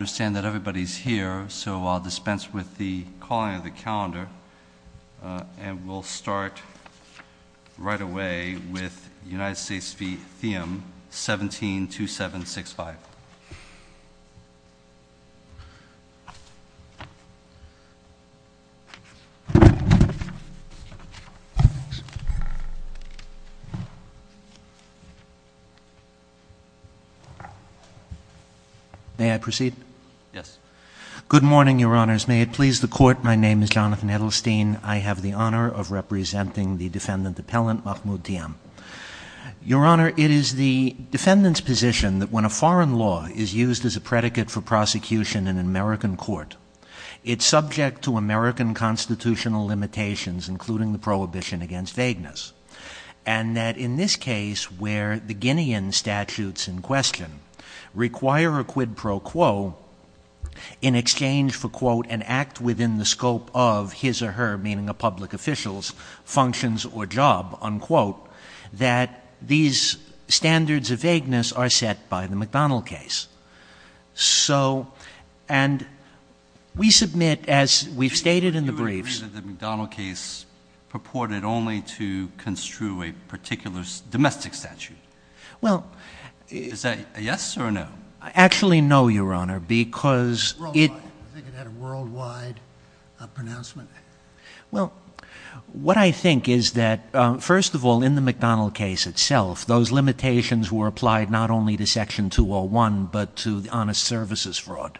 I understand that everybody's here, so I'll dispense with the calling of the calendar and we'll start right away with United States v. Theom, 17-2765. May I proceed? Yes. Good morning, Your Honors. May it please the Court, my name is Jonathan Edelstein. I have the honor of representing the Defendant Appellant Mahmoud Thiam. Your Honor, it is the Defendant's position that when a foreign law is used as a predicate for prosecution in an American court, it's subject to American constitutional limitations, including the prohibition against vagueness. And that in this case, where the Guinean statutes in question require a quid pro quo in exchange for, quote, an act within the scope of his or her, meaning a public official's functions or job, unquote, that these standards of vagueness are set by the McDonnell case. So, and we submit, as we've stated in the briefs... Do you agree that the McDonnell case purported only to construe a particular domestic statute? Well... Is that a yes or a no? Actually, no, Your Honor, because it... I think it had a worldwide pronouncement. Well, what I think is that, first of all, in the McDonnell case itself, those limitations were applied not only to Section 201, but to the honest services fraud.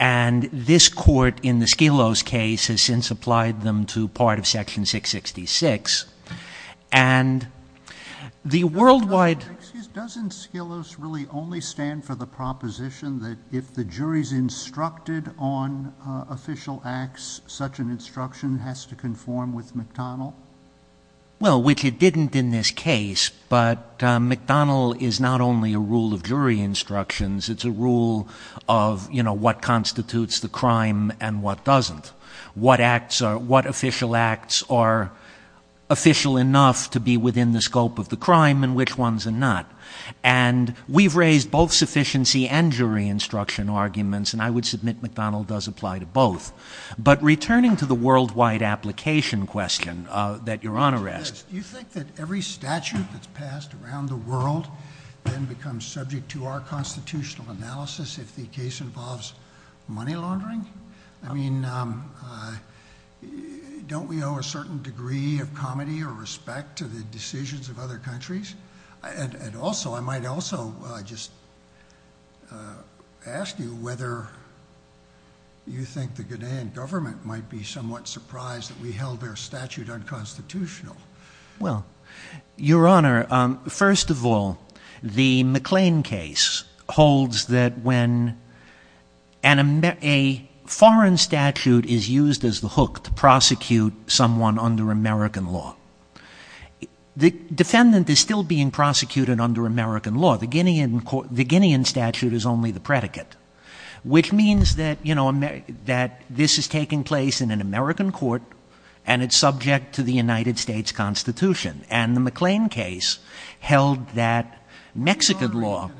And this Court, in the Skelos case, has since applied them to part of Section 666. And the worldwide... Well, which it didn't in this case, but McDonnell is not only a rule of jury instructions. It's a rule of, you know, what constitutes the crime and what doesn't. What acts are...what official acts are official enough to be within the scope of the crime and which ones are not. And we've raised both sufficiency and jury instruction arguments, and I would submit McDonnell does apply to both. But returning to the worldwide application question that Your Honor asked... Do you think that every statute that's passed around the world then becomes subject to our constitutional analysis if the case involves money laundering? I mean, don't we owe a certain degree of comedy or respect to the decisions of other countries? And also, I might also just ask you whether you think the Ghanaian government might be somewhat surprised that we held their statute unconstitutional. Well, Your Honor, first of all, the McLean case holds that when a foreign statute is used as the hook to prosecute someone under American law, the defendant is still being prosecuted under American law. The Ghanaian statute is only the predicate, which means that, you know, that this is taking place in an American court and it's subject to the United States Constitution. And the McLean case held that Mexican law...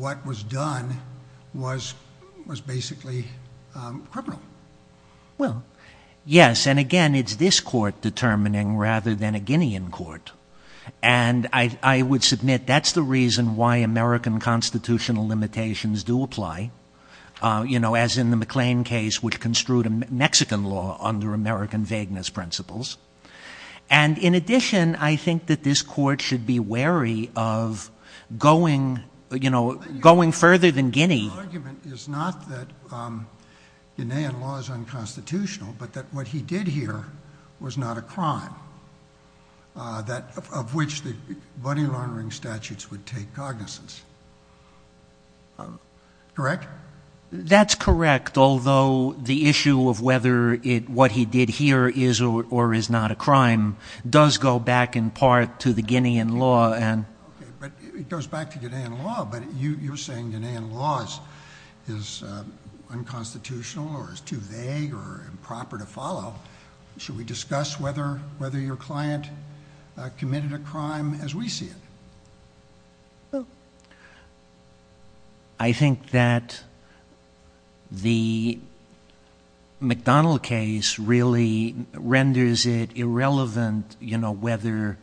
What was done was basically criminal. Well, yes, and again, it's this court determining rather than a Ghanaian court. And I would submit that's the reason why American constitutional limitations do apply. You know, as in the McLean case, which construed Mexican law under American vagueness principles. And in addition, I think that this court should be wary of going, you know, going further than Guinea. Your argument is not that Ghanaian law is unconstitutional, but that what he did here was not a crime, of which the money laundering statutes would take cognizance. Correct? That's correct, although the issue of whether what he did here is or is not a crime does go back in part to the Ghanaian law. Okay, but it goes back to Ghanaian law, but you're saying Ghanaian law is unconstitutional or is too vague or improper to follow. Should we discuss whether your client committed a crime as we see it? I think that the McDonnell case really renders it irrelevant, you know, whether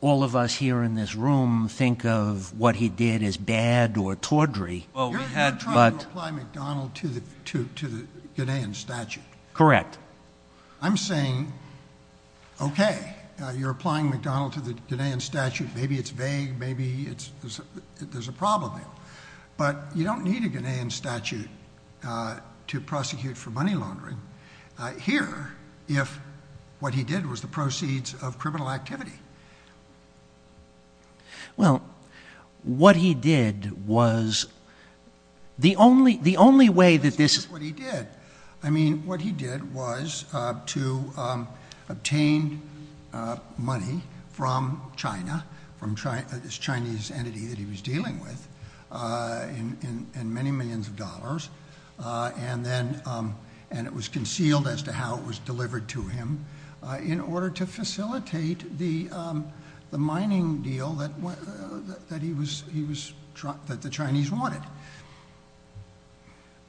all of us here in this room think of what he did as bad or tawdry. You're trying to apply McDonnell to the Ghanaian statute. Correct. I'm saying, okay, you're applying McDonnell to the Ghanaian statute. Maybe it's vague. Maybe there's a problem there. But you don't need a Ghanaian statute to prosecute for money laundering here if what he did was the proceeds of criminal activity. Well, what he did was the only way that this… I mean, what he did was to obtain money from China, this Chinese entity that he was dealing with, and many millions of dollars. And it was concealed as to how it was delivered to him in order to facilitate the mining deal that the Chinese wanted.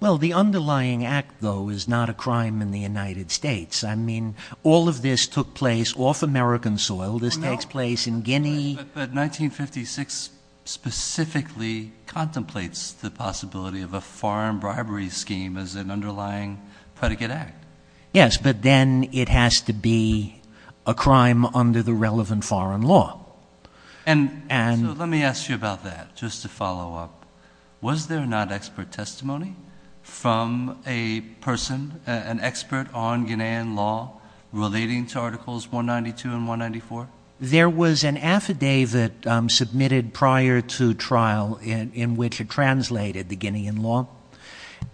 Well, the underlying act, though, is not a crime in the United States. I mean, all of this took place off American soil. This takes place in Guinea. But 1956 specifically contemplates the possibility of a foreign bribery scheme as an underlying predicate act. Yes, but then it has to be a crime under the relevant foreign law. So let me ask you about that just to follow up. Was there not expert testimony from a person, an expert on Ghanaian law relating to Articles 192 and 194? There was an affidavit submitted prior to trial in which it translated the Ghanaian law.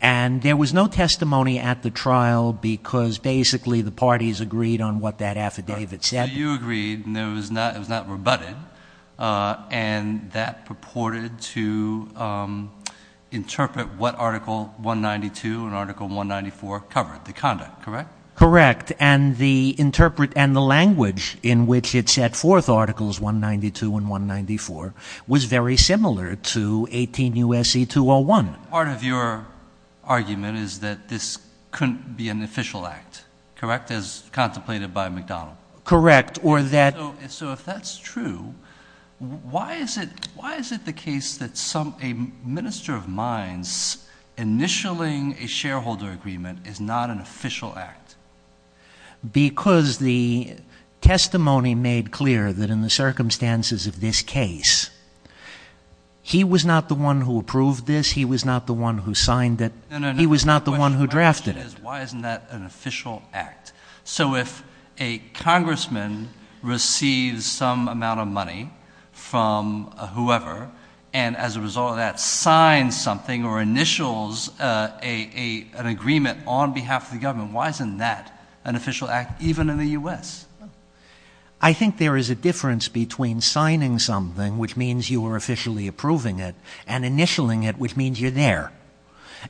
And there was no testimony at the trial because basically the parties agreed on what that affidavit said. So you agreed and it was not rebutted, and that purported to interpret what Article 192 and Article 194 covered, the conduct, correct? Correct, and the language in which it set forth Articles 192 and 194 was very similar to 18 U.S.C. 201. Part of your argument is that this couldn't be an official act, correct, as contemplated by McDonald? Correct. So if that's true, why is it the case that a minister of mines initialing a shareholder agreement is not an official act? Because the testimony made clear that in the circumstances of this case, he was not the one who approved this. He was not the one who signed it. He was not the one who drafted it. My question is why isn't that an official act? So if a congressman receives some amount of money from whoever, and as a result of that signs something or initials an agreement on behalf of the government, why isn't that an official act even in the U.S.? I think there is a difference between signing something, which means you are officially approving it, and initialing it, which means you're there.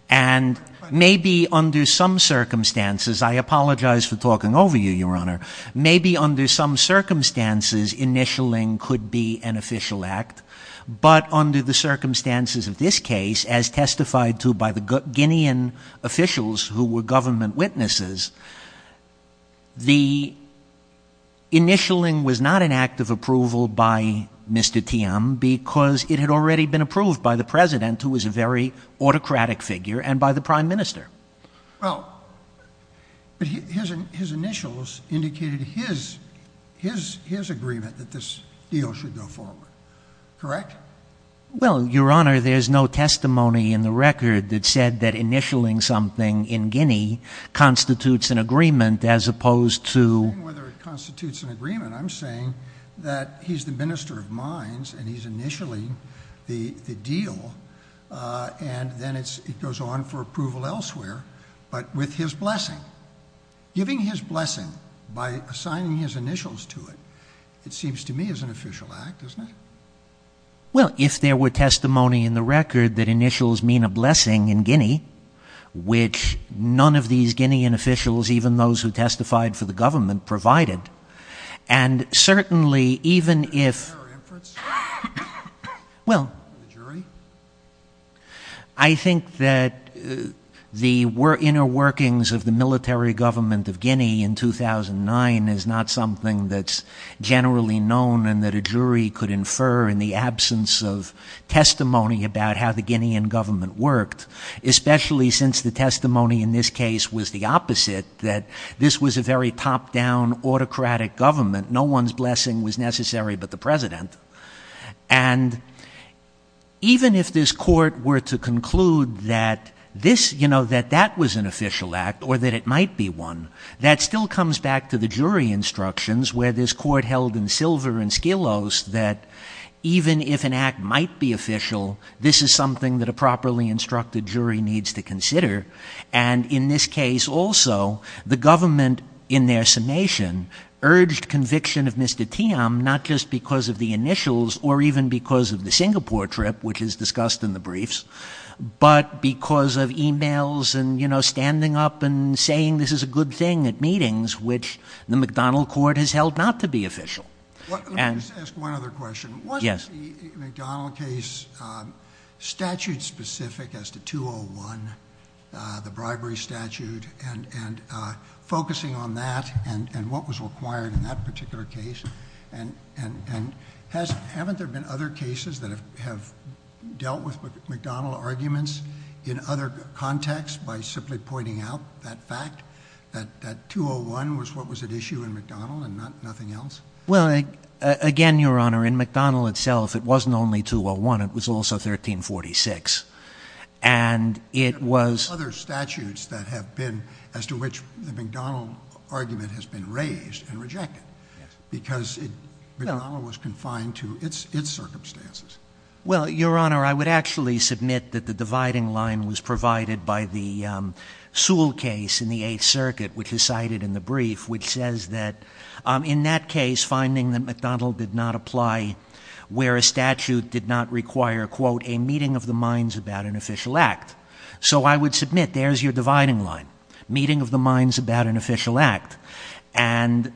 And maybe under some circumstances, I apologize for talking over you, Your Honor, maybe under some circumstances initialing could be an official act, but under the circumstances of this case, as testified to by the Guinean officials who were government witnesses, the initialing was not an act of approval by Mr. TM because it had already been approved by the president, who was a very autocratic figure, and by the prime minister. Well, but his initials indicated his agreement that this deal should go forward, correct? Well, Your Honor, there's no testimony in the record that said that initialing something in Guinea constitutes an agreement as opposed to... I'm not saying whether it constitutes an agreement. I'm saying that he's the minister of mines, and he's initialing the deal, and then it goes on for approval elsewhere, but with his blessing. Giving his blessing by assigning his initials to it, it seems to me is an official act, isn't it? Well, if there were testimony in the record that initials mean a blessing in Guinea, which none of these Guinean officials, even those who testified for the government, provided, and certainly even if... Is there a reference? Well... The jury? I think that the inner workings of the military government of Guinea in 2009 is not something that's generally known and that a jury could infer in the absence of testimony about how the Guinean government worked, especially since the testimony in this case was the opposite, that this was a very top-down autocratic government. No one's blessing was necessary but the president. And even if this court were to conclude that this, you know, that that was an official act or that it might be one, that still comes back to the jury instructions where this court held in silver and skillos that even if an act might be official, this is something that a properly instructed jury needs to consider. And in this case also, the government, in their summation, urged conviction of Mr. Tiam, not just because of the initials or even because of the Singapore trip, which is discussed in the briefs, but because of emails and, you know, standing up and saying this is a good thing at meetings, which the McDonnell court has held not to be official. Let me just ask one other question. Yes. Was the McDonnell case statute-specific as to 201, the bribery statute, and focusing on that and what was required in that particular case? And haven't there been other cases that have dealt with McDonnell arguments in other contexts by simply pointing out that fact, that 201 was what was at issue in McDonnell and nothing else? Well, again, Your Honor, in McDonnell itself, it wasn't only 201. It was also 1346. And it was- Other statutes that have been as to which the McDonnell argument has been raised and rejected. Yes. Because McDonnell was confined to its circumstances. Well, Your Honor, I would actually submit that the dividing line was provided by the Sewell case in the Eighth Circuit, which is cited in the brief, which says that in that case, finding that McDonnell did not apply where a statute did not require, quote, a meeting of the minds about an official act. So I would submit there's your dividing line, meeting of the minds about an official act. And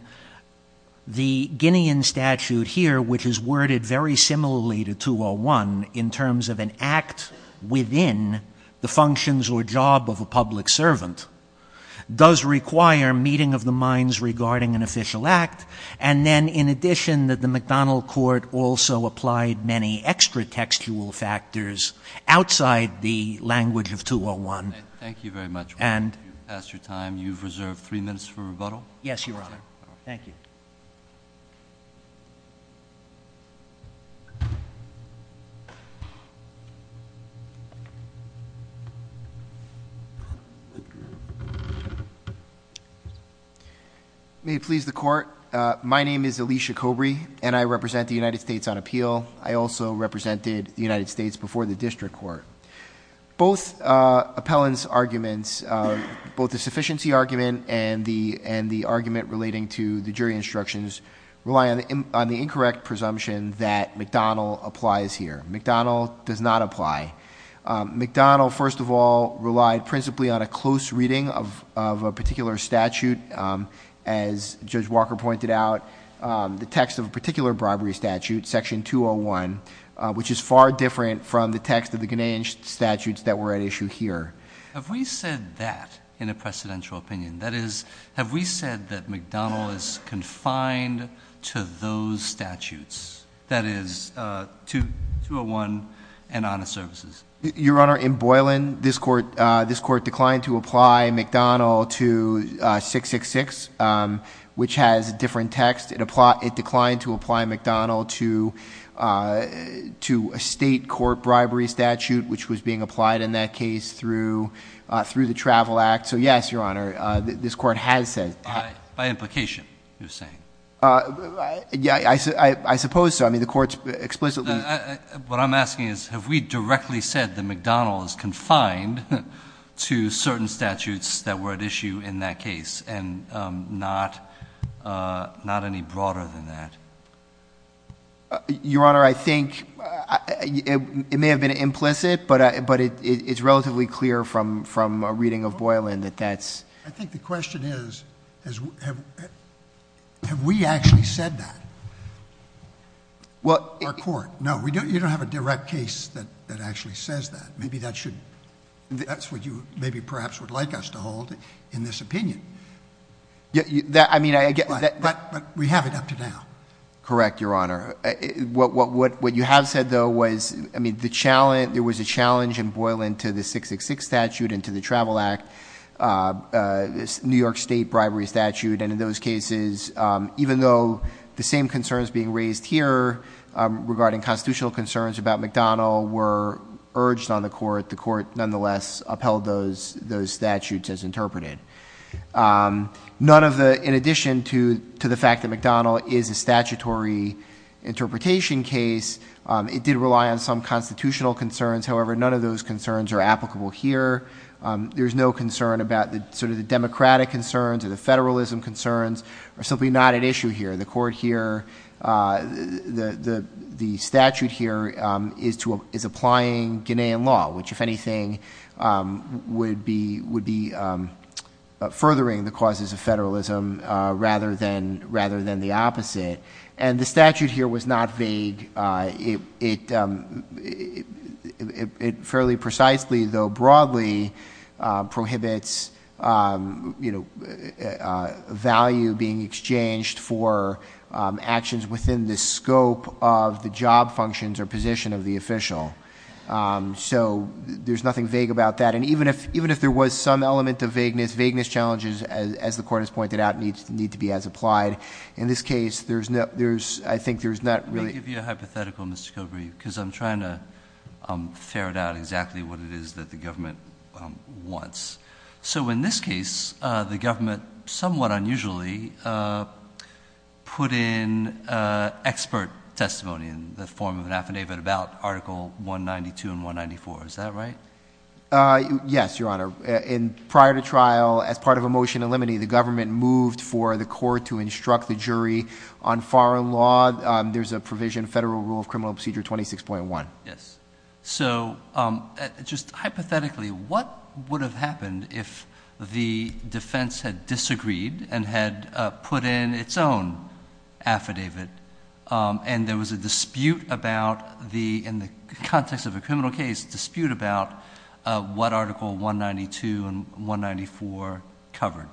the Guinean statute here, which is worded very similarly to 201, in terms of an act within the functions or job of a public servant, does require meeting of the minds regarding an official act. And then, in addition, that the McDonnell court also applied many extra textual factors outside the language of 201. Thank you very much. And- You've passed your time. You've reserved three minutes for rebuttal. Yes, Your Honor. Thank you. May it please the Court, my name is Alicia Cobry, and I represent the United States on appeal. I also represented the United States before the district court. Both appellant's arguments, both the sufficiency argument and the argument relating to the jury instructions rely on the incorrect presumption that McDonnell applies here. McDonnell does not apply. McDonnell, first of all, relied principally on a close reading of a particular statute. As Judge Walker pointed out, the text of a particular bribery statute, section 201, which is far different from the text of the Ghanaian statutes that were at issue here. Have we said that in a precedential opinion? That is, have we said that McDonnell is confined to those statutes? That is, 201 and honest services. Your Honor, in Boylan, this court declined to apply McDonnell to 666, which has a different text. It declined to apply McDonnell to a state court bribery statute, which was being applied in that case through the Travel Act. So yes, Your Honor, this court has said. By implication, you're saying? I suppose so. I mean, the court's explicitly- What I'm asking is, have we directly said that McDonnell is confined to certain statutes that were at issue in that case, and not any broader than that? Your Honor, I think it may have been implicit, but it's relatively clear from a reading of Boylan that that's- I think the question is, have we actually said that? Our court. No, you don't have a direct case that actually says that. Maybe that's what you perhaps would like us to hold in this opinion. But we have it up to now. Correct, Your Honor. What you have said, though, was there was a challenge in Boylan to the 666 statute and to the Travel Act, this New York State bribery statute, and in those cases, even though the same concerns being raised here regarding constitutional concerns about McDonnell were urged on the court, the court nonetheless upheld those statutes as interpreted. In addition to the fact that McDonnell is a statutory interpretation case, it did rely on some constitutional concerns. However, none of those concerns are applicable here. There's no concern about sort of the democratic concerns or the federalism concerns are simply not at issue here. The court here, the statute here is applying Guinean law, which if anything would be furthering the causes of federalism rather than the opposite. And the statute here was not vague. It fairly precisely, though broadly, prohibits value being exchanged for actions within the scope of the job functions or position of the official. So there's nothing vague about that. And even if there was some element of vagueness, vagueness challenges, as the court has pointed out, need to be as applied. In this case, I think there's not really- Let me give you a hypothetical, Mr. Kilbrey, because I'm trying to ferret out exactly what it is that the government wants. So in this case, the government somewhat unusually put in expert testimony in the form of an affidavit about Article 192 and 194. Is that right? Yes, Your Honor. Prior to trial, as part of a motion to eliminate, the government moved for the court to instruct the jury on foreign law. There's a provision, federal rule of criminal procedure 26.1. Yes. So just hypothetically, what would have happened if the defense had disagreed and had put in its own affidavit and there was a dispute about the, in the context of a criminal case, dispute about what Article 192 and 194 covered?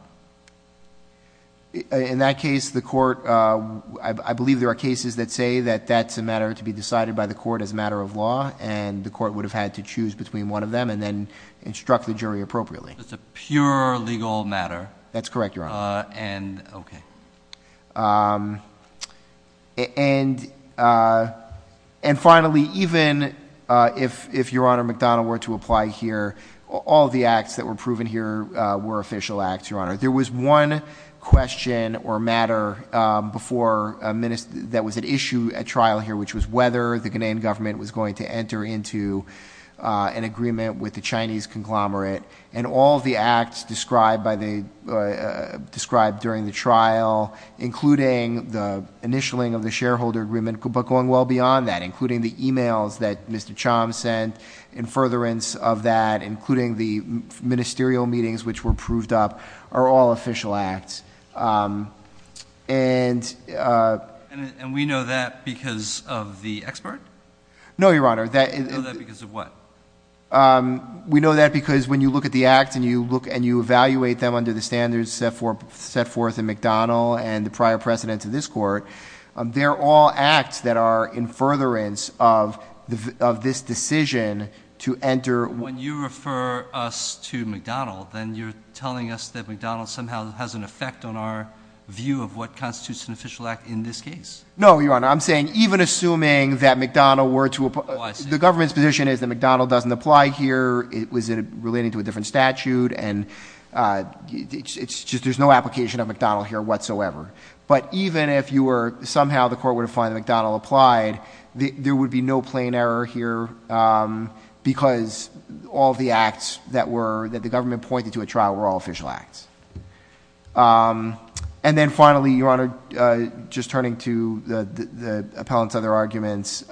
In that case, the court, I believe there are cases that say that that's a matter to be decided by the court as a matter of law, and the court would have had to choose between one of them and then instruct the jury appropriately. It's a pure legal matter. That's correct, Your Honor. And, okay. And finally, even if Your Honor McDonough were to apply here, all the acts that were proven here were official acts, Your Honor. There was one question or matter before a minister that was at issue at trial here, which was whether the Ghanaian government was going to enter into an agreement with the Chinese conglomerate. And all the acts described during the trial, including the initialing of the shareholder agreement, but going well beyond that, including the e-mails that Mr. Choms sent in furtherance of that, including the ministerial meetings which were proved up, are all official acts. And we know that because of the expert? No, Your Honor. We know that because of what? We know that because when you look at the acts and you evaluate them under the standards set forth in McDonough and the prior precedents of this court, they're all acts that are in furtherance of this decision to enter. When you refer us to McDonough, then you're telling us that McDonough somehow has an effect on our view of what constitutes an official act in this case. No, Your Honor. I'm saying even assuming that McDonough were to apply. Oh, I see. The government's position is that McDonough doesn't apply here, it was relating to a different statute, and it's just there's no application of McDonough here whatsoever. But even if somehow the court were to find that McDonough applied, there would be no plain error here because all the acts that the government pointed to at trial were all official acts. And then finally, Your Honor, just turning to the appellant's other arguments,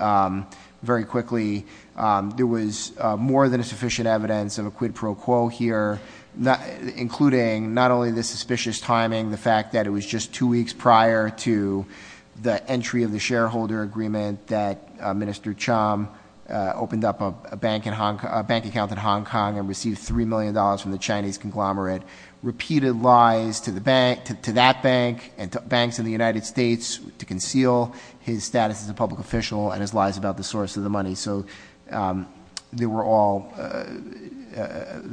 very quickly, there was more than sufficient evidence of a quid pro quo here, including not only the suspicious timing, the fact that it was just two weeks prior to the entry of the shareholder agreement that Minister Chum opened up a bank account in Hong Kong and received $3 million from the Chinese conglomerate, but repeated lies to that bank and to banks in the United States to conceal his status as a public official and his lies about the source of the money. So there were all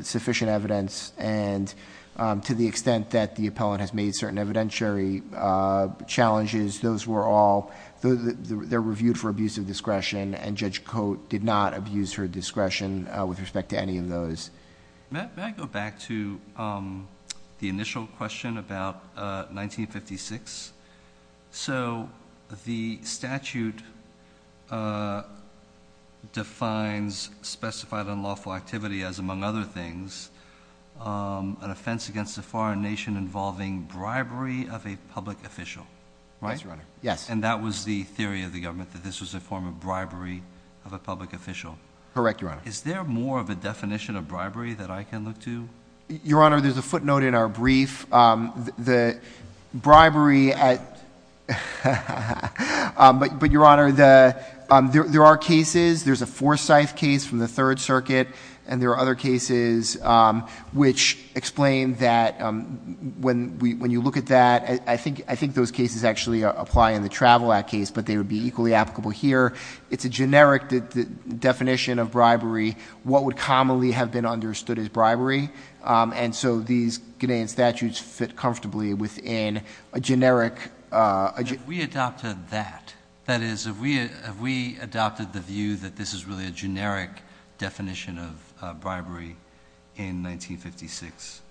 sufficient evidence. And to the extent that the appellant has made certain evidentiary challenges, those were all reviewed for abuse of discretion, and Judge Cote did not abuse her discretion with respect to any of those. May I go back to the initial question about 1956? So the statute defines specified unlawful activity as, among other things, an offense against a foreign nation involving bribery of a public official, right? Yes, Your Honor. And that was the theory of the government, that this was a form of bribery of a public official? Correct, Your Honor. Is there more of a definition of bribery that I can look to? Your Honor, there's a footnote in our brief. The bribery at—but, Your Honor, there are cases. There's a Forsyth case from the Third Circuit, and there are other cases which explain that when you look at that, I think those cases actually apply in the Travel Act case, but they would be equally applicable here. It's a generic definition of bribery, what would commonly have been understood as bribery, and so these Canadian statutes fit comfortably within a generic— Have we adopted that? That is, have we adopted the view that this is really a generic definition of bribery in 1956?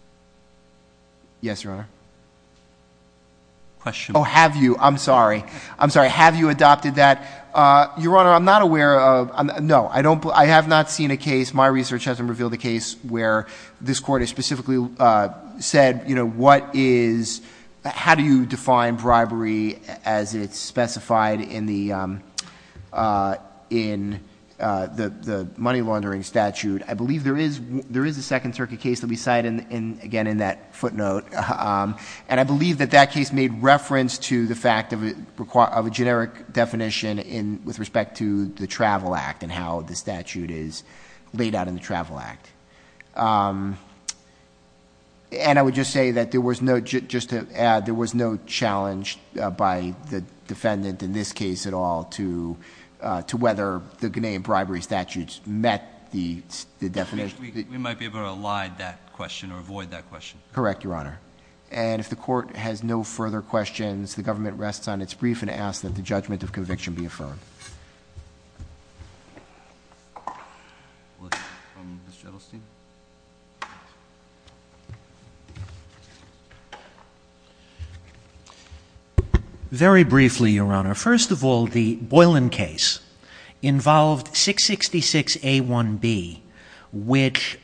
Yes, Your Honor. Oh, have you? I'm sorry. I'm sorry. Have you adopted that? Your Honor, I'm not aware of—no, I have not seen a case. My research hasn't revealed a case where this Court has specifically said, you know, what is—how do you define bribery as it's specified in the money laundering statute? I believe there is a Second Circuit case that we cite, again, in that footnote, and I believe that that case made reference to the fact of a generic definition with respect to the Travel Act and how the statute is laid out in the Travel Act. And I would just say that there was no—just to add, there was no challenge by the defendant in this case at all to whether the Canadian bribery statutes met the definition. We might be able to elide that question or avoid that question. Correct, Your Honor. And if the Court has no further questions, the government rests on its brief and asks that the judgment of conviction be affirmed. Very briefly, Your Honor, first of all, the Boylan case involved 666A1B, which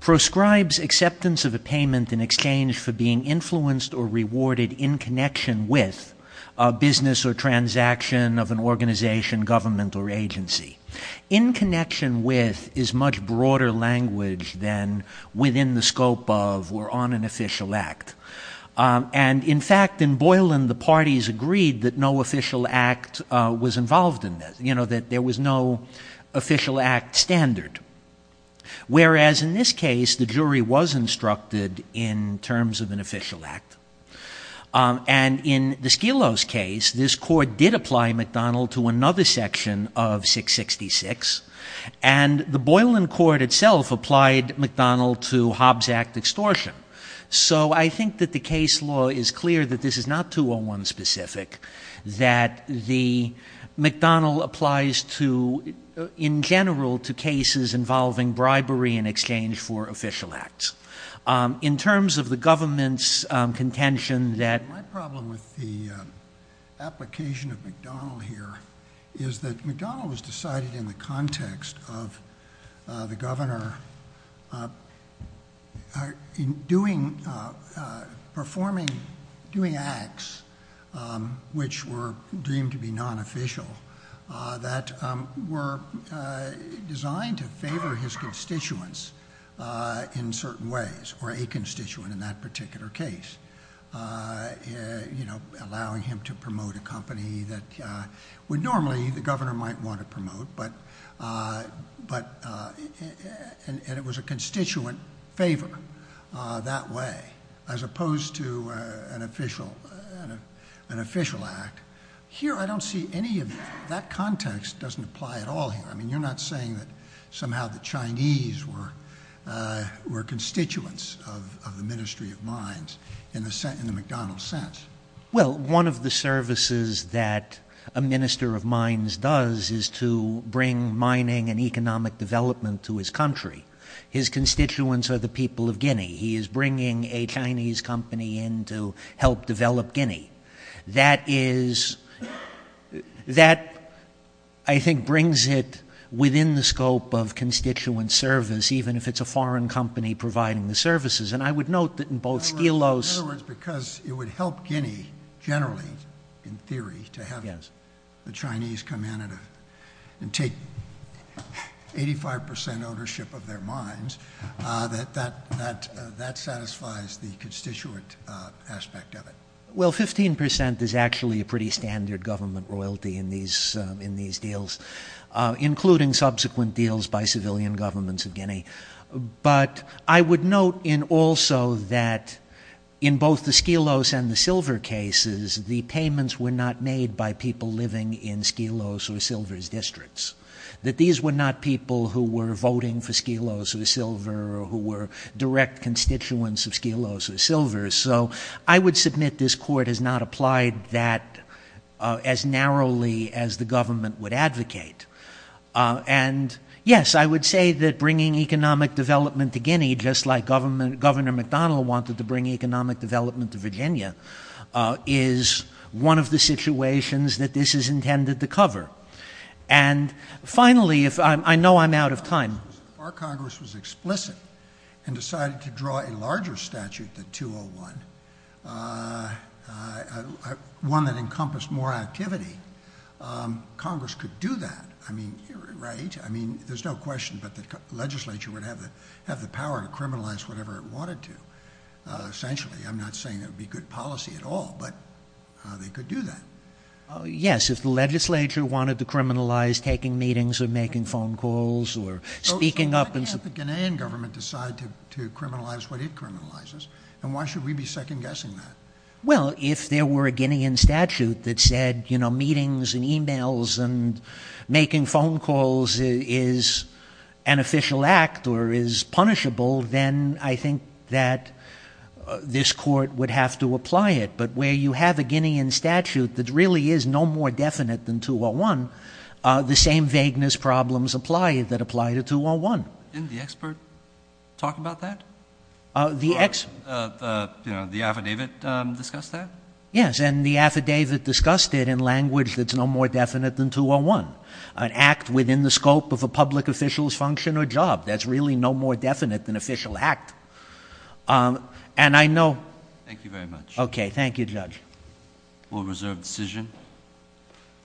proscribes acceptance of a payment in exchange for being influenced or rewarded in connection with a business or transaction of an organization, government, or agency. In connection with is much broader language than within the scope of or on an official act. And, in fact, in Boylan, the parties agreed that no official act was involved in this, you know, that there was no official act standard. Whereas in this case, the jury was instructed in terms of an official act. And in the Skelos case, this Court did apply McDonnell to another section of 666, and the Boylan Court itself applied McDonnell to Hobbs Act extortion. So I think that the case law is clear that this is not 201 specific, that the McDonnell applies to, in general, to cases involving bribery in exchange for official acts. In terms of the government's contention that- My problem with the application of McDonnell here is that McDonnell was decided in the context of the governor performing- doing acts which were deemed to be non-official that were designed to favor his constituents in certain ways, or a constituent in that particular case. You know, allowing him to promote a company that would normally the governor might want to promote, but- and it was a constituent favor that way, as opposed to an official act. Here, I don't see any of that. That context doesn't apply at all here. I mean, you're not saying that somehow the Chinese were constituents of the Ministry of Mines in the McDonnell sense. Well, one of the services that a Minister of Mines does is to bring mining and economic development to his country. His constituents are the people of Guinea. He is bringing a Chinese company in to help develop Guinea. That is- that, I think, brings it within the scope of constituent service, even if it's a foreign company providing the services. And I would note that in both Stelos- in Guinea, generally, in theory, to have the Chinese come in and take 85% ownership of their mines, that satisfies the constituent aspect of it. Well, 15% is actually a pretty standard government royalty in these deals, including subsequent deals by civilian governments of Guinea. But I would note also that in both the Stelos and the Silver cases, the payments were not made by people living in Stelos or Silver's districts. That these were not people who were voting for Stelos or Silver, or who were direct constituents of Stelos or Silver. So I would submit this court has not applied that as narrowly as the government would advocate. And, yes, I would say that bringing economic development to Guinea, just like Governor McDonnell wanted to bring economic development to Virginia, is one of the situations that this is intended to cover. And, finally, if- I know I'm out of time. Our Congress was explicit and decided to draw a larger statute than 201, one that encompassed more activity. Congress could do that, right? I mean, there's no question, but the legislature would have the power to criminalize whatever it wanted to. Essentially, I'm not saying it would be good policy at all, but they could do that. Yes, if the legislature wanted to criminalize taking meetings or making phone calls or speaking up- So why can't the Guinean government decide to criminalize what it criminalizes? And why should we be second-guessing that? Well, if there were a Guinean statute that said meetings and emails and making phone calls is an official act or is punishable, then I think that this court would have to apply it. But where you have a Guinean statute that really is no more definite than 201, the same vagueness problems apply that apply to 201. Didn't the expert talk about that? The affidavit discussed that? Yes, and the affidavit discussed it in language that's no more definite than 201. An act within the scope of a public official's function or job, that's really no more definite than official act. And I know- Thank you very much. Okay, thank you, Judge. We'll reserve the decision, and we'll hear from you.